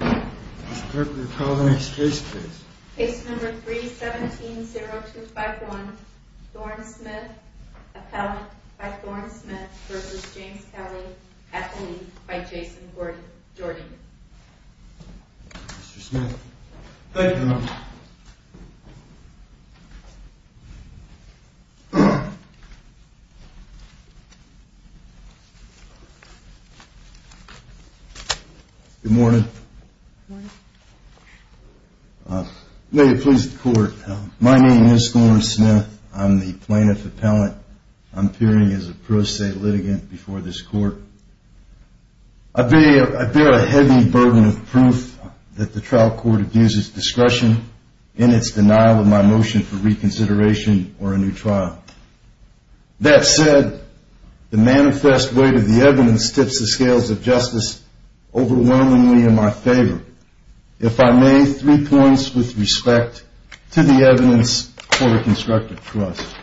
Mr. Parker, call the next case please. Case number 3-17-0251, Thorn Smith, Appellant by Thorn Smith v. James Kelly, Athlete by Jason Jordan. Mr. Smith. Thank you, Your Honor. Good morning. May it please the court. My name is Thorn Smith. I'm the plaintiff appellant. I'm appearing as a pro se litigant before this court. I bear a heavy burden of proof that the trial court abuses discretion in its denial of my motion for reconsideration or a new trial. That said, the manifest weight of the evidence tips the scales of justice overwhelmingly in my favor. If I may, three points with respect to the evidence for a constructive trust.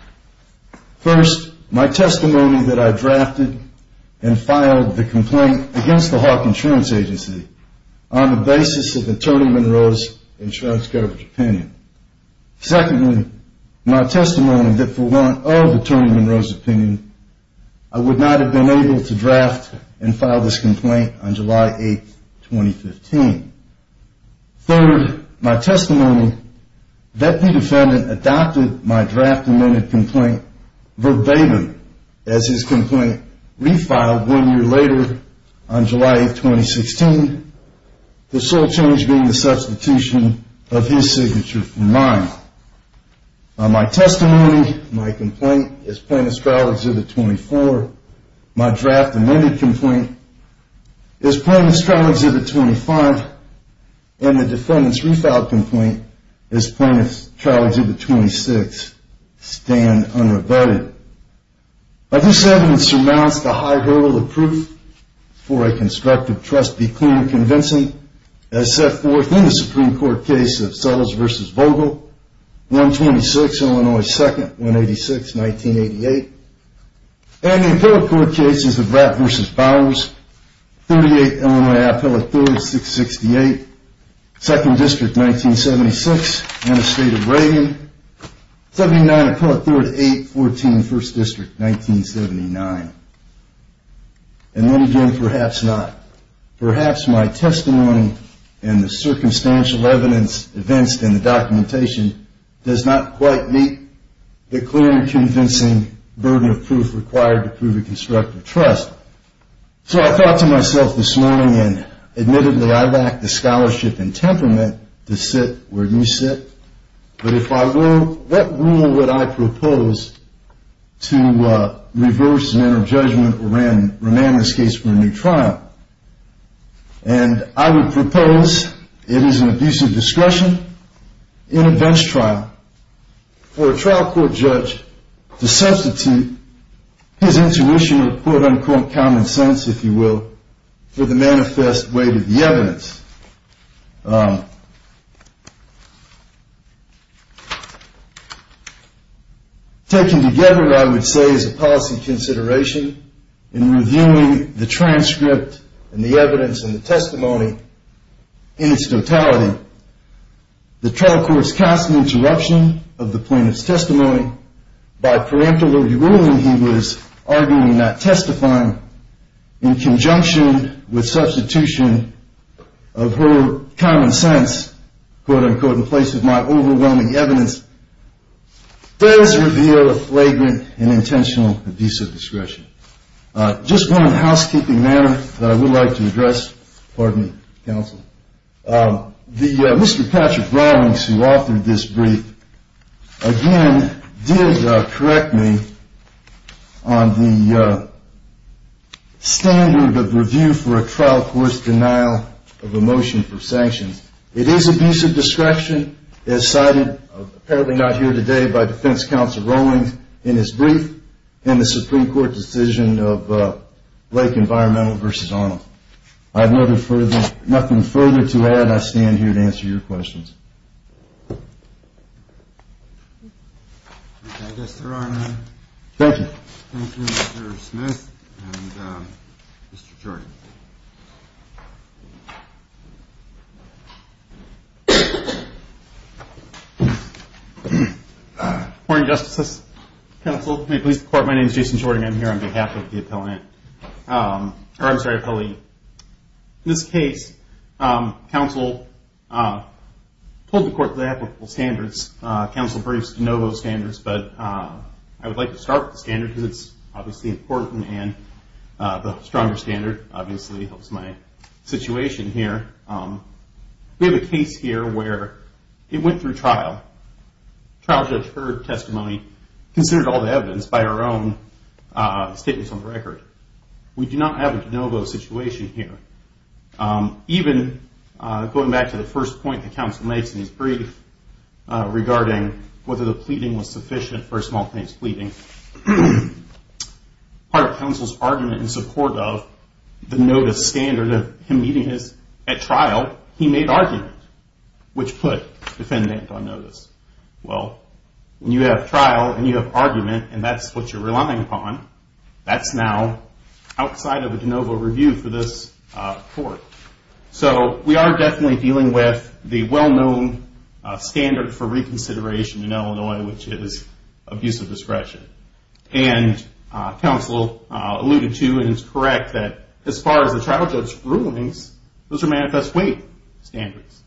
First, my testimony that I drafted and filed the complaint against the Hawke Insurance Agency on the basis of Attorney Monroe's insurance coverage opinion. Secondly, my testimony that for want of Attorney Monroe's opinion, I would not have been able to draft and file this complaint on July 8, 2015. Third, my testimony that the defendant adopted my draft amended complaint verbatim as his complaint refiled one year later on July 8, 2016. The sole change being the substitution of his signature from mine. My testimony, my complaint, is Plaintiff's Trial Exhibit 24. My draft amended complaint is Plaintiff's Trial Exhibit 25. And the defendant's refiled complaint is Plaintiff's Trial Exhibit 26, stand unrebutted. This evidence surmounts the high hurdle of proof for a constructive trust be clear and convincing as set forth in the Supreme Court case of Sullivs v. Vogel, 126 Illinois 2nd, 186, 1988. And the appellate court cases of Rapp v. Bowers, 38 Illinois Appellate Theory, 668, 2nd District, 1976, and the State of Reagan, 79 Appellate Theory, 814, 1st District, 1979. And then again, perhaps not. Perhaps my testimony and the circumstantial evidence evinced in the documentation does not quite meet the clear and convincing burden of proof required to prove a constructive trust. So I thought to myself this morning, and admittedly I lack the scholarship and temperament to sit where you sit, but if I were, what rule would I propose to reverse the manner of judgment or remand this case for a new trial? And I would propose it is an abusive discretion in a bench trial for a trial court judge to substitute his intuition or quote unquote common sense, if you will, for the manifest weight of the evidence. Taken together, I would say, is a policy consideration in reviewing the transcript and the evidence and the testimony in its totality. The trial courts cast an interruption of the plaintiff's testimony. By parenterally ruling, he was arguing that testifying in conjunction with substitution of her common sense, quote unquote, in place of my overwhelming evidence, does reveal a flagrant and intentional abusive discretion. Just one housekeeping matter that I would like to address. Pardon me, counsel. Mr. Patrick Rawlings, who authored this brief, again did correct me on the standard of review for a trial court's denial of a motion for sanctions. It is abusive discretion as cited, apparently not here today, by defense counsel Rawlings in his brief in the Supreme Court decision of Blake Environmental v. Arnold. I have nothing further to add. I stand here to answer your questions. I guess there are no questions. Thank you, Mr. Smith and Mr. Jordan. Good morning, justices, counsel. My name is Jason Jordan. I am here on behalf of the appellee. In this case, counsel pulled the court's applicable standards, counsel's brief's de novo standards, but I would like to start with the standard because it's obviously important and the stronger standard obviously helps my situation here. We have a case here where it went through trial. Trial judge heard testimony, considered all the evidence by our own statements on the record. We do not have a de novo situation here. Even going back to the first point that counsel makes in his brief regarding whether the pleading was sufficient for a small case pleading, part of counsel's argument in support of the notice standard of him meeting at trial, he made argument, which put defendant on notice. When you have trial and you have argument and that's what you're relying upon, that's now outside of a de novo review for this court. We are definitely dealing with the well-known standard for reconsideration in Illinois, which is abuse of discretion. Counsel alluded to and is correct that as far as the trial judge rulings, those are manifest weight standards.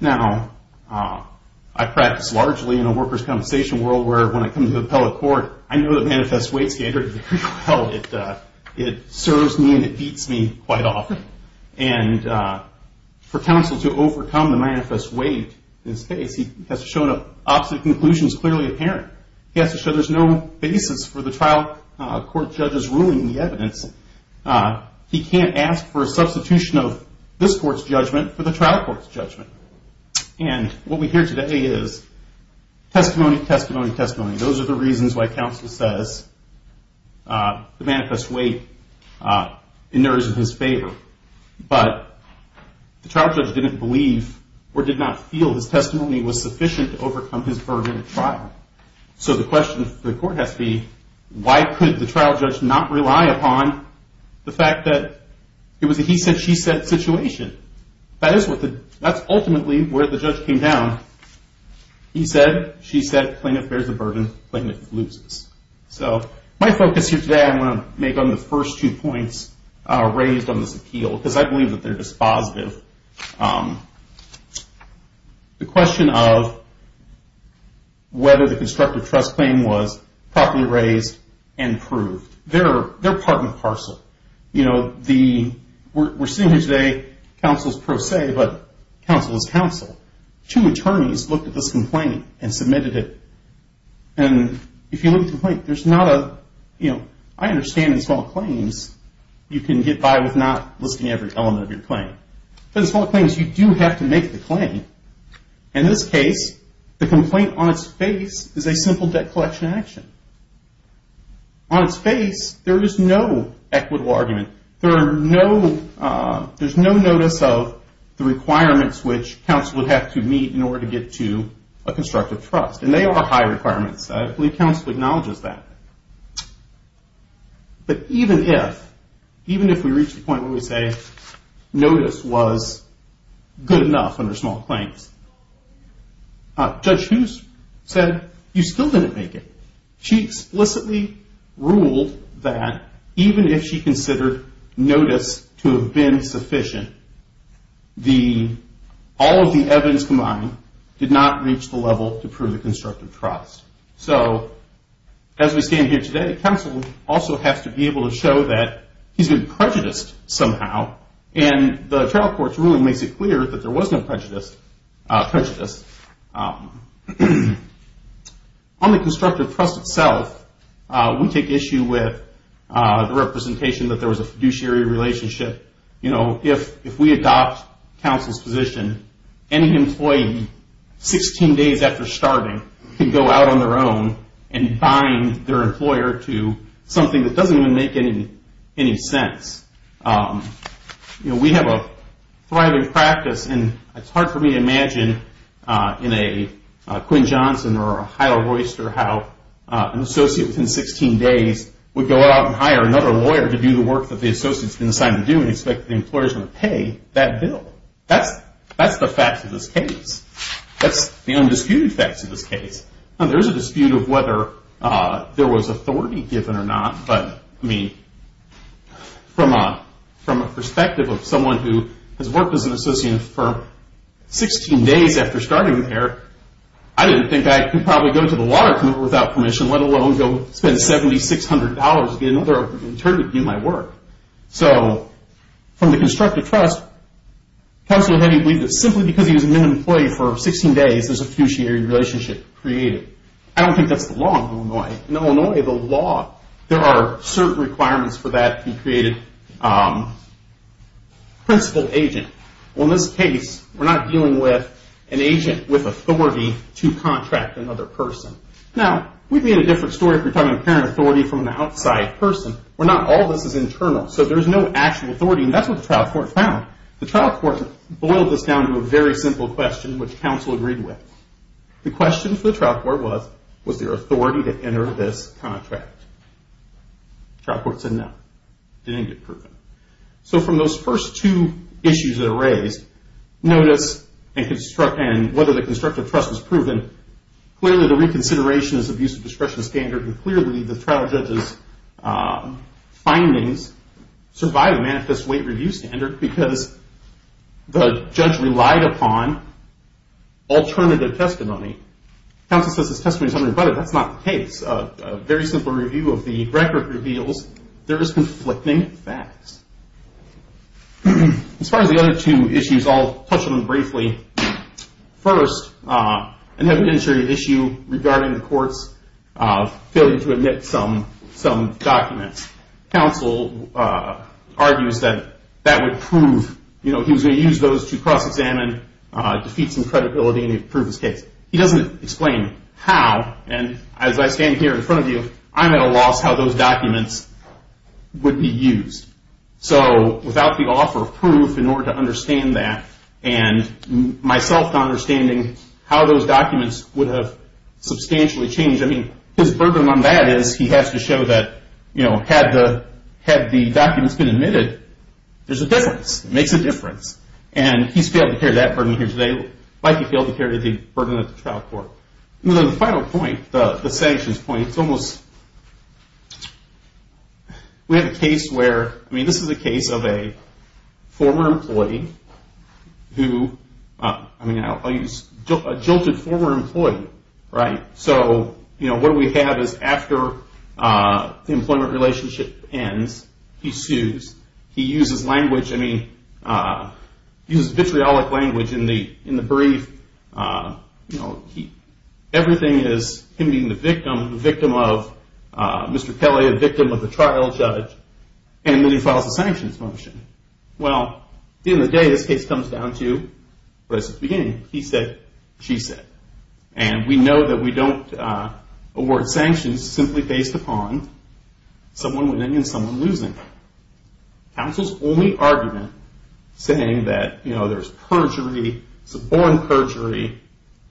Now, I practice largely in a worker's compensation world where when I come to appellate court, I know the manifest weight standard very well. It serves me and it beats me quite often. For counsel to overcome the manifest weight in this case, he has to show an opposite conclusion is clearly apparent. He has to show there's no basis for the trial court judge's ruling in the evidence. He can't ask for a substitution of this court's judgment for the trial court's judgment. What we hear today is testimony, testimony, testimony. Those are the reasons why counsel says the manifest weight in there is in his favor. But the trial judge didn't believe or did not feel his testimony was sufficient to overcome his burden at trial. So the question for the court has to be, why could the trial judge not rely upon the fact that it was a he said, she said situation? That's ultimately where the judge came down. He said, she said, plaintiff bears the burden, plaintiff loses. So my focus here today, I'm going to make on the first two points raised on this appeal because I believe that they're dispositive. The question of whether the constructive trust claim was properly raised and proved. They're part and parcel. We're sitting here today, counsel is pro se, but counsel is counsel. Two attorneys looked at this complaint and submitted it. And if you look at the complaint, there's not a, you know, I understand in small claims, you can get by with not listing every element of your claim. But in small claims, you do have to make the claim. In this case, the complaint on its face is a simple debt collection action. On its face, there is no equitable argument. There are no, there's no notice of the requirements which counsel would have to meet in order to get to a constructive trust. And they are high requirements. I believe counsel acknowledges that. But even if, even if we reach the point where we say notice was good enough under small claims. Judge Hughes said you still didn't make it. She explicitly ruled that even if she considered notice to have been sufficient, all of the evidence combined did not reach the level to prove the constructive trust. So as we stand here today, counsel also has to be able to show that he's been prejudiced somehow. And the trial court's ruling makes it clear that there was no prejudice. On the constructive trust itself, we take issue with the representation that there was a fiduciary relationship. You know, if we adopt counsel's position, any employee 16 days after starving can go out on their own and bind their employer to something that doesn't even make any sense. You know, we have a thriving practice, and it's hard for me to imagine in a Quinn Johnson or a Hilah Royster how an associate within 16 days would go out and hire another lawyer to do the work that the associate's been assigned to do and expect the employer's going to pay that bill. That's the facts of this case. That's the undisputed facts of this case. Now, there is a dispute of whether there was authority given or not. But, I mean, from a perspective of someone who has worked as an associate for 16 days after starting there, I didn't think I could probably go to the water company without permission, let alone go spend $7,600 to get another attorney to do my work. So, from the constructive trust, counsel had me believe that simply because he was an employee for 16 days, there's a fiduciary relationship created. I don't think that's the law in Illinois. In Illinois, the law, there are certain requirements for that to be created. Principal agent. Well, in this case, we're not dealing with an agent with authority to contract another person. Now, we'd be in a different story if we're talking about apparent authority from an outside person, where not all of this is internal. So, there's no actual authority, and that's what the trial court found. The trial court boiled this down to a very simple question, which counsel agreed with. The question for the trial court was, was there authority to enter this contract? The trial court said no. It didn't get proven. So, from those first two issues that are raised, notice and whether the constructive trust was proven, clearly the reconsideration is abuse of discretion standard, and clearly the trial judge's findings survive a manifest weight review standard because the judge relied upon alternative testimony. Counsel says his testimony is unrebutted. That's not the case. A very simple review of the record reveals there is conflicting facts. As far as the other two issues, I'll touch on them briefly. First, an evidentiary issue regarding the court's failure to admit some documents. Counsel argues that that would prove, you know, he was going to use those to cross-examine, defeat some credibility, and he'd prove his case. He doesn't explain how, and as I stand here in front of you, I'm at a loss how those documents would be used. So, without the offer of proof in order to understand that, and myself not understanding how those documents would have substantially changed, I mean, his burden on that is he has to show that, you know, had the documents been admitted, there's a difference. It makes a difference. And he's failed to carry that burden here today. He failed to carry the burden at the trial court. The final point, the sanctions point, it's almost, we have a case where, I mean, this is a case of a former employee who, I mean, a jilted former employee, right? So, you know, what we have is after the employment relationship ends, he sues. He uses language, I mean, he uses vitriolic language in the brief. You know, everything is him being the victim, the victim of Mr. Kelly, a victim of the trial judge, and then he files a sanctions motion. Well, at the end of the day, this case comes down to what I said at the beginning, he said, she said. And we know that we don't award sanctions simply based upon someone winning and someone losing. Counsel's only argument saying that, you know, there's perjury, suborn perjury,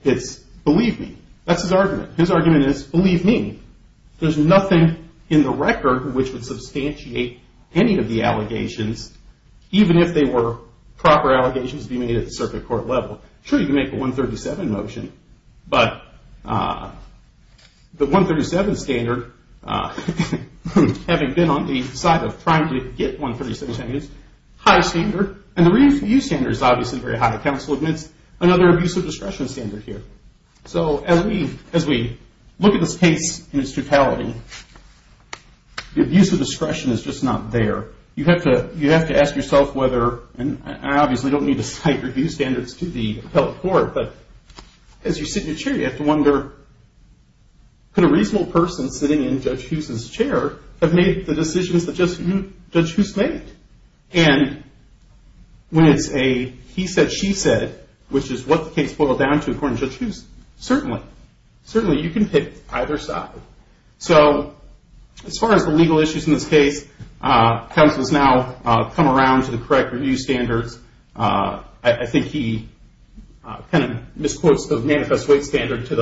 it's believe me. That's his argument. His argument is believe me. There's nothing in the record which would substantiate any of the allegations, even if they were proper allegations being made at the circuit court level. Sure, you can make a 137 motion, but the 137 standard, having been on the side of trying to get 137 standards, high standard, and the review standard is obviously very high. Counsel admits another abuse of discretion standard here. So, as we look at this case in its totality, the abuse of discretion is just not there. You have to ask yourself whether, and I obviously don't need to cite review standards to the appellate court, but as you sit in your chair, you have to wonder, could a reasonable person sitting in Judge Huse's chair have made the decisions that Judge Huse made? And when it's a he said, she said, which is what the case boiled down to according to Judge Huse, certainly, certainly you can pick either side. So, as far as the legal issues in this case, counsel has now come around to the correct review standards. I think he kind of misquotes the manifest weight standard to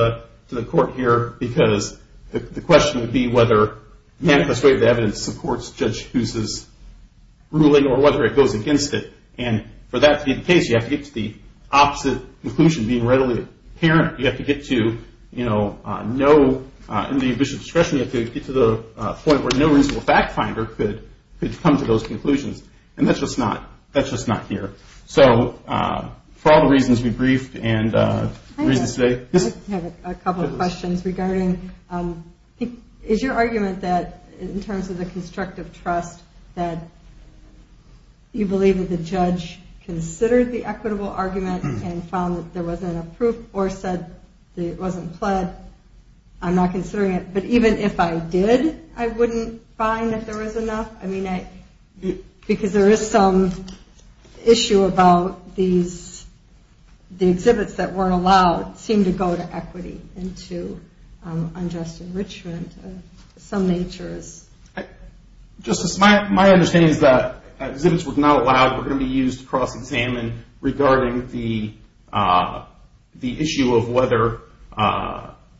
the court here. Because the question would be whether manifest weight of evidence supports Judge Huse's ruling or whether it goes against it. And for that to be the case, you have to get to the opposite conclusion being readily apparent. You have to get to, you know, no, in the abuse of discretion, you have to get to the point where no reasonable fact finder could come to those conclusions. And that's just not, that's just not here. So, for all the reasons we briefed and reasons today. I have a couple of questions regarding, is your argument that in terms of the constructive trust, that you believe that the judge considered the equitable argument and found that there wasn't enough proof or said that it wasn't pled. I'm not considering it. But even if I did, I wouldn't find that there was enough. I mean, because there is some issue about these, the exhibits that weren't allowed seemed to go to equity and to unjust enrichment of some natures. Justice, my understanding is that exhibits were not allowed were going to be used to cross examine regarding the issue of whether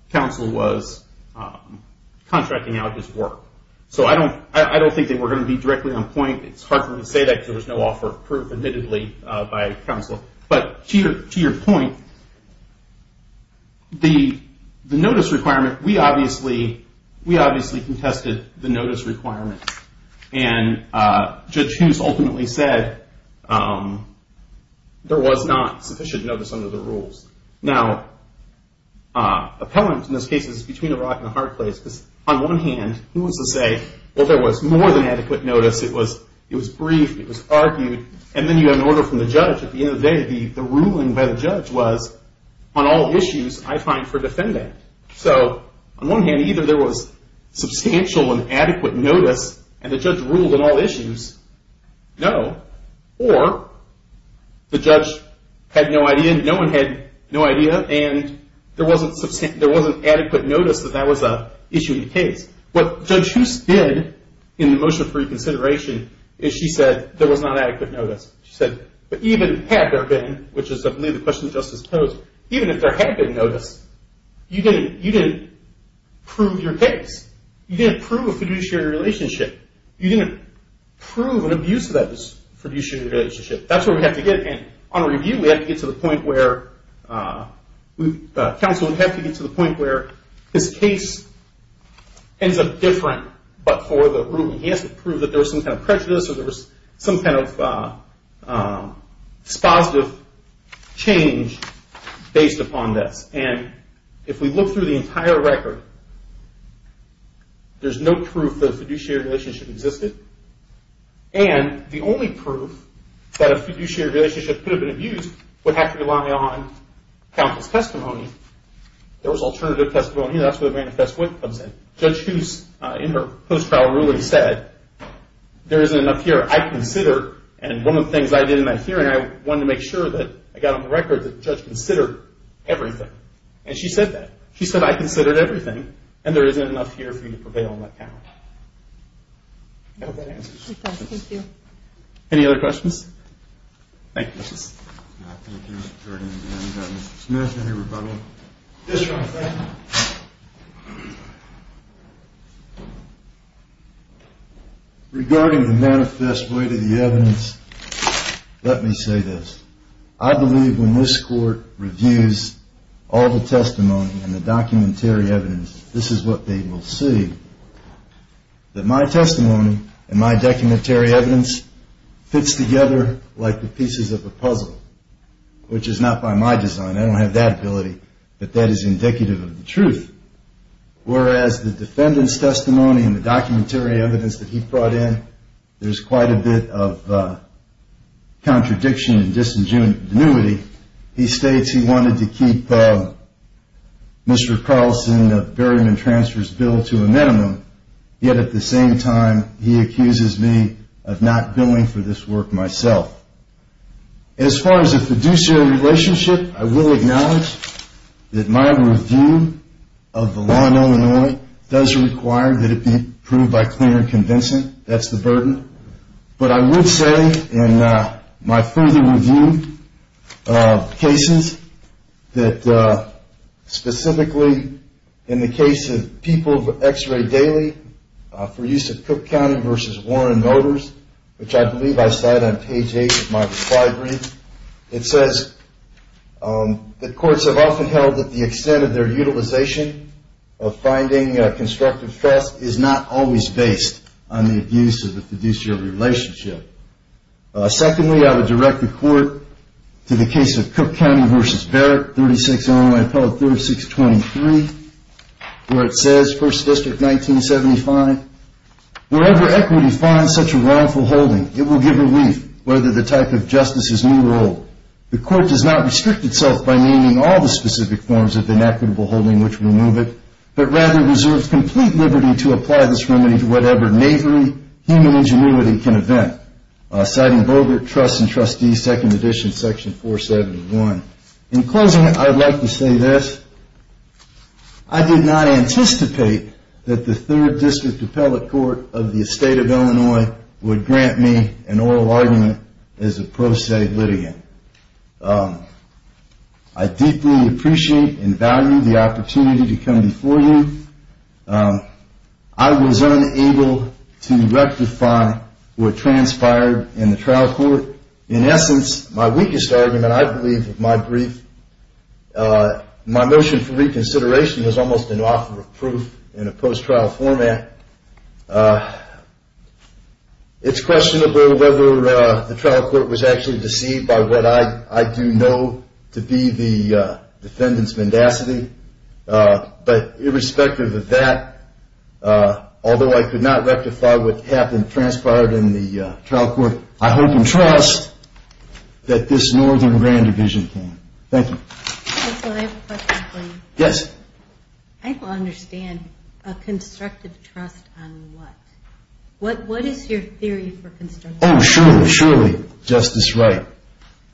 counsel was contracting out his work. So, I don't think they were going to be directly on point. It's hard for me to say that because there was no offer of proof, admittedly, by counsel. But to your point, the notice requirement, we obviously contested the notice requirement. And Judge Hughes ultimately said there was not sufficient notice under the rules. Now, appellant in this case is between a rock and a hard place. Because on one hand, he wants to say, well, there was more than adequate notice. It was brief. It was argued. And then you had an order from the judge. At the end of the day, the ruling by the judge was, on all issues, I find for defendant. So, on one hand, either there was substantial and adequate notice and the judge ruled on all issues, no. Or the judge had no idea and no one had no idea and there wasn't adequate notice that that was an issue in the case. What Judge Hughes did in the motion for reconsideration is she said there was not adequate notice. She said, but even had there been, which is, I believe, the question that Justice posed, even if there had been notice, you didn't prove your case. You didn't prove a fiduciary relationship. You didn't prove an abuse of that fiduciary relationship. That's where we have to get. And on review, we have to get to the point where counsel would have to get to the point where his case ends up different, but for the ruling he has to prove that there was some kind of prejudice or there was some kind of dispositive change based upon this. And if we look through the entire record, there's no proof that a fiduciary relationship existed. And the only proof that a fiduciary relationship could have been abused would have to rely on counsel's testimony. There was alternative testimony. That's where the manifest wit comes in. Judge Hughes, in her post-trial ruling, said, there isn't enough here. I consider, and one of the things I did in that hearing, I wanted to make sure that I got on the record that the judge considered everything. And she said that. And there isn't enough here for you to prevail on that count. I hope that answers your question. Thank you. Any other questions? Thank you. Regarding the manifest wit of the evidence, let me say this. I believe when this court reviews all the testimony and the documentary evidence, this is what they will see, that my testimony and my documentary evidence fits together like the pieces of a puzzle, which is not by my design. I don't have that ability, but that is indicative of the truth. Whereas the defendant's testimony and the documentary evidence that he brought in, there's quite a bit of contradiction and disingenuity. He states he wanted to keep Mr. Carlson's barium and transfers bill to a minimum, yet at the same time he accuses me of not billing for this work myself. As far as the fiduciary relationship, I will acknowledge that my review of the law in Illinois does require that it be proved by clear and convincing. That's the burden. But I would say in my further review of cases, that specifically in the case of People of X-Ray Daily for use of Cook County v. Warren Motors, which I believe I cite on page 8 of my reply brief, it says that courts have often held that the extent of their utilization of finding constructive trust is not always based on the abuse of the fiduciary relationship. Secondly, I would direct the court to the case of Cook County v. Barrett, 36 Illinois, appellate 3623, where it says, 1st District, 1975, wherever equity finds such a wrongful holding, it will give relief, whether the type of justice is new or old. The court does not restrict itself by naming all the specific forms of inequitable holding which remove it, but rather reserves complete liberty to apply this remedy to whatever knavery, human ingenuity can event. Citing Bogert, Trusts and Trustees, 2nd Edition, Section 471. In closing, I'd like to say this. I did not anticipate that the 3rd District Appellate Court of the State of Illinois would grant me an oral argument as a pro se litigant. I deeply appreciate and value the opportunity to come before you. I was unable to rectify what transpired in the trial court. In essence, my weakest argument, I believe, of my brief, my motion for reconsideration was almost an offer of proof in a post-trial format. It's questionable whether the trial court was actually deceived by what I do know to be the defendant's mendacity. Irrespective of that, although I could not rectify what transpired in the trial court, I hope and trust that this Northern Grand Division can. Thank you. I have a question for you. Yes. I don't understand a constructive trust on what? What is your theory for constructive trust? Oh, surely, surely, Justice Wright.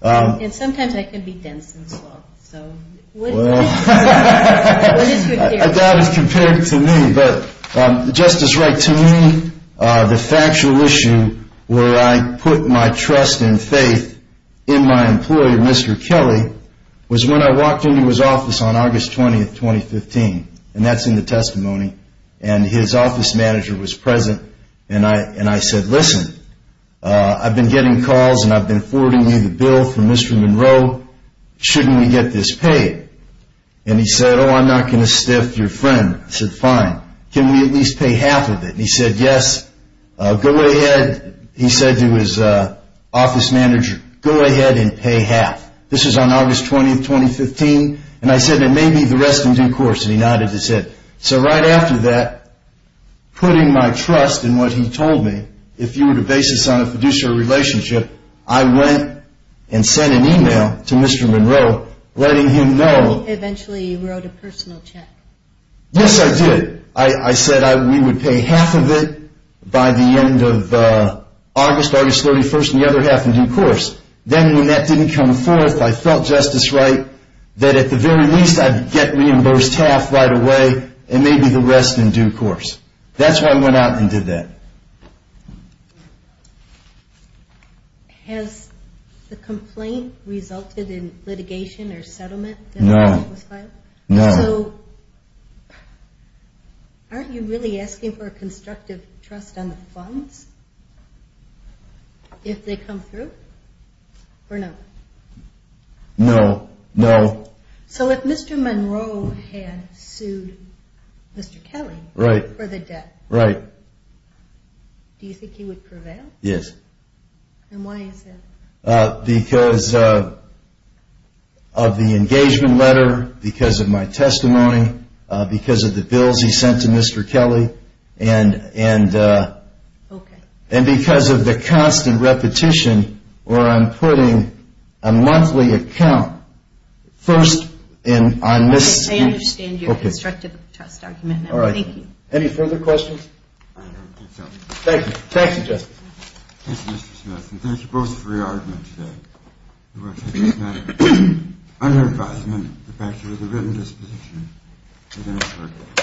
And sometimes I can be dense and slow, so what is your theory? That is compared to me, but Justice Wright, to me, the factual issue where I put my trust and faith in my employer, Mr. Kelly, was when I walked into his office on August 20, 2015, and that's in the testimony, and his office manager was present, and I said, Listen, I've been getting calls and I've been forwarding you the bill from Mr. Monroe. Shouldn't we get this paid? And he said, Oh, I'm not going to stiff your friend. I said, Fine. Can we at least pay half of it? And he said, Yes. Go ahead. He said to his office manager, Go ahead and pay half. This was on August 20, 2015. And I said, And maybe the rest in due course. And he nodded his head. So right after that, putting my trust in what he told me, if you were to base this on a fiduciary relationship, I went and sent an email to Mr. Monroe letting him know. Eventually you wrote a personal check. Yes, I did. I said we would pay half of it by the end of August, August 31, and the other half in due course. Then when that didn't come forth, I felt, Justice Wright, that at the very least I'd get reimbursed half right away and maybe the rest in due course. That's why I went out and did that. Has the complaint resulted in litigation or settlement? No. No. So aren't you really asking for a constructive trust on the funds if they come through or no? No. No. So if Mr. Monroe had sued Mr. Kelly for the debt, do you think he would prevail? Yes. And why is that? Because of the engagement letter, because of my testimony, because of the bills he sent to Mr. Kelly, and because of the constant repetition where I'm putting a monthly account first on this. Okay. I understand your constructive trust argument. All right. Thank you. Any further questions? I don't think so. Thank you. Thank you, Justice. Thank you, Mr. Smith, and thank you both for your argument today. We're going to take this matter under advisement. The fact is there's a written disposition. Thank you.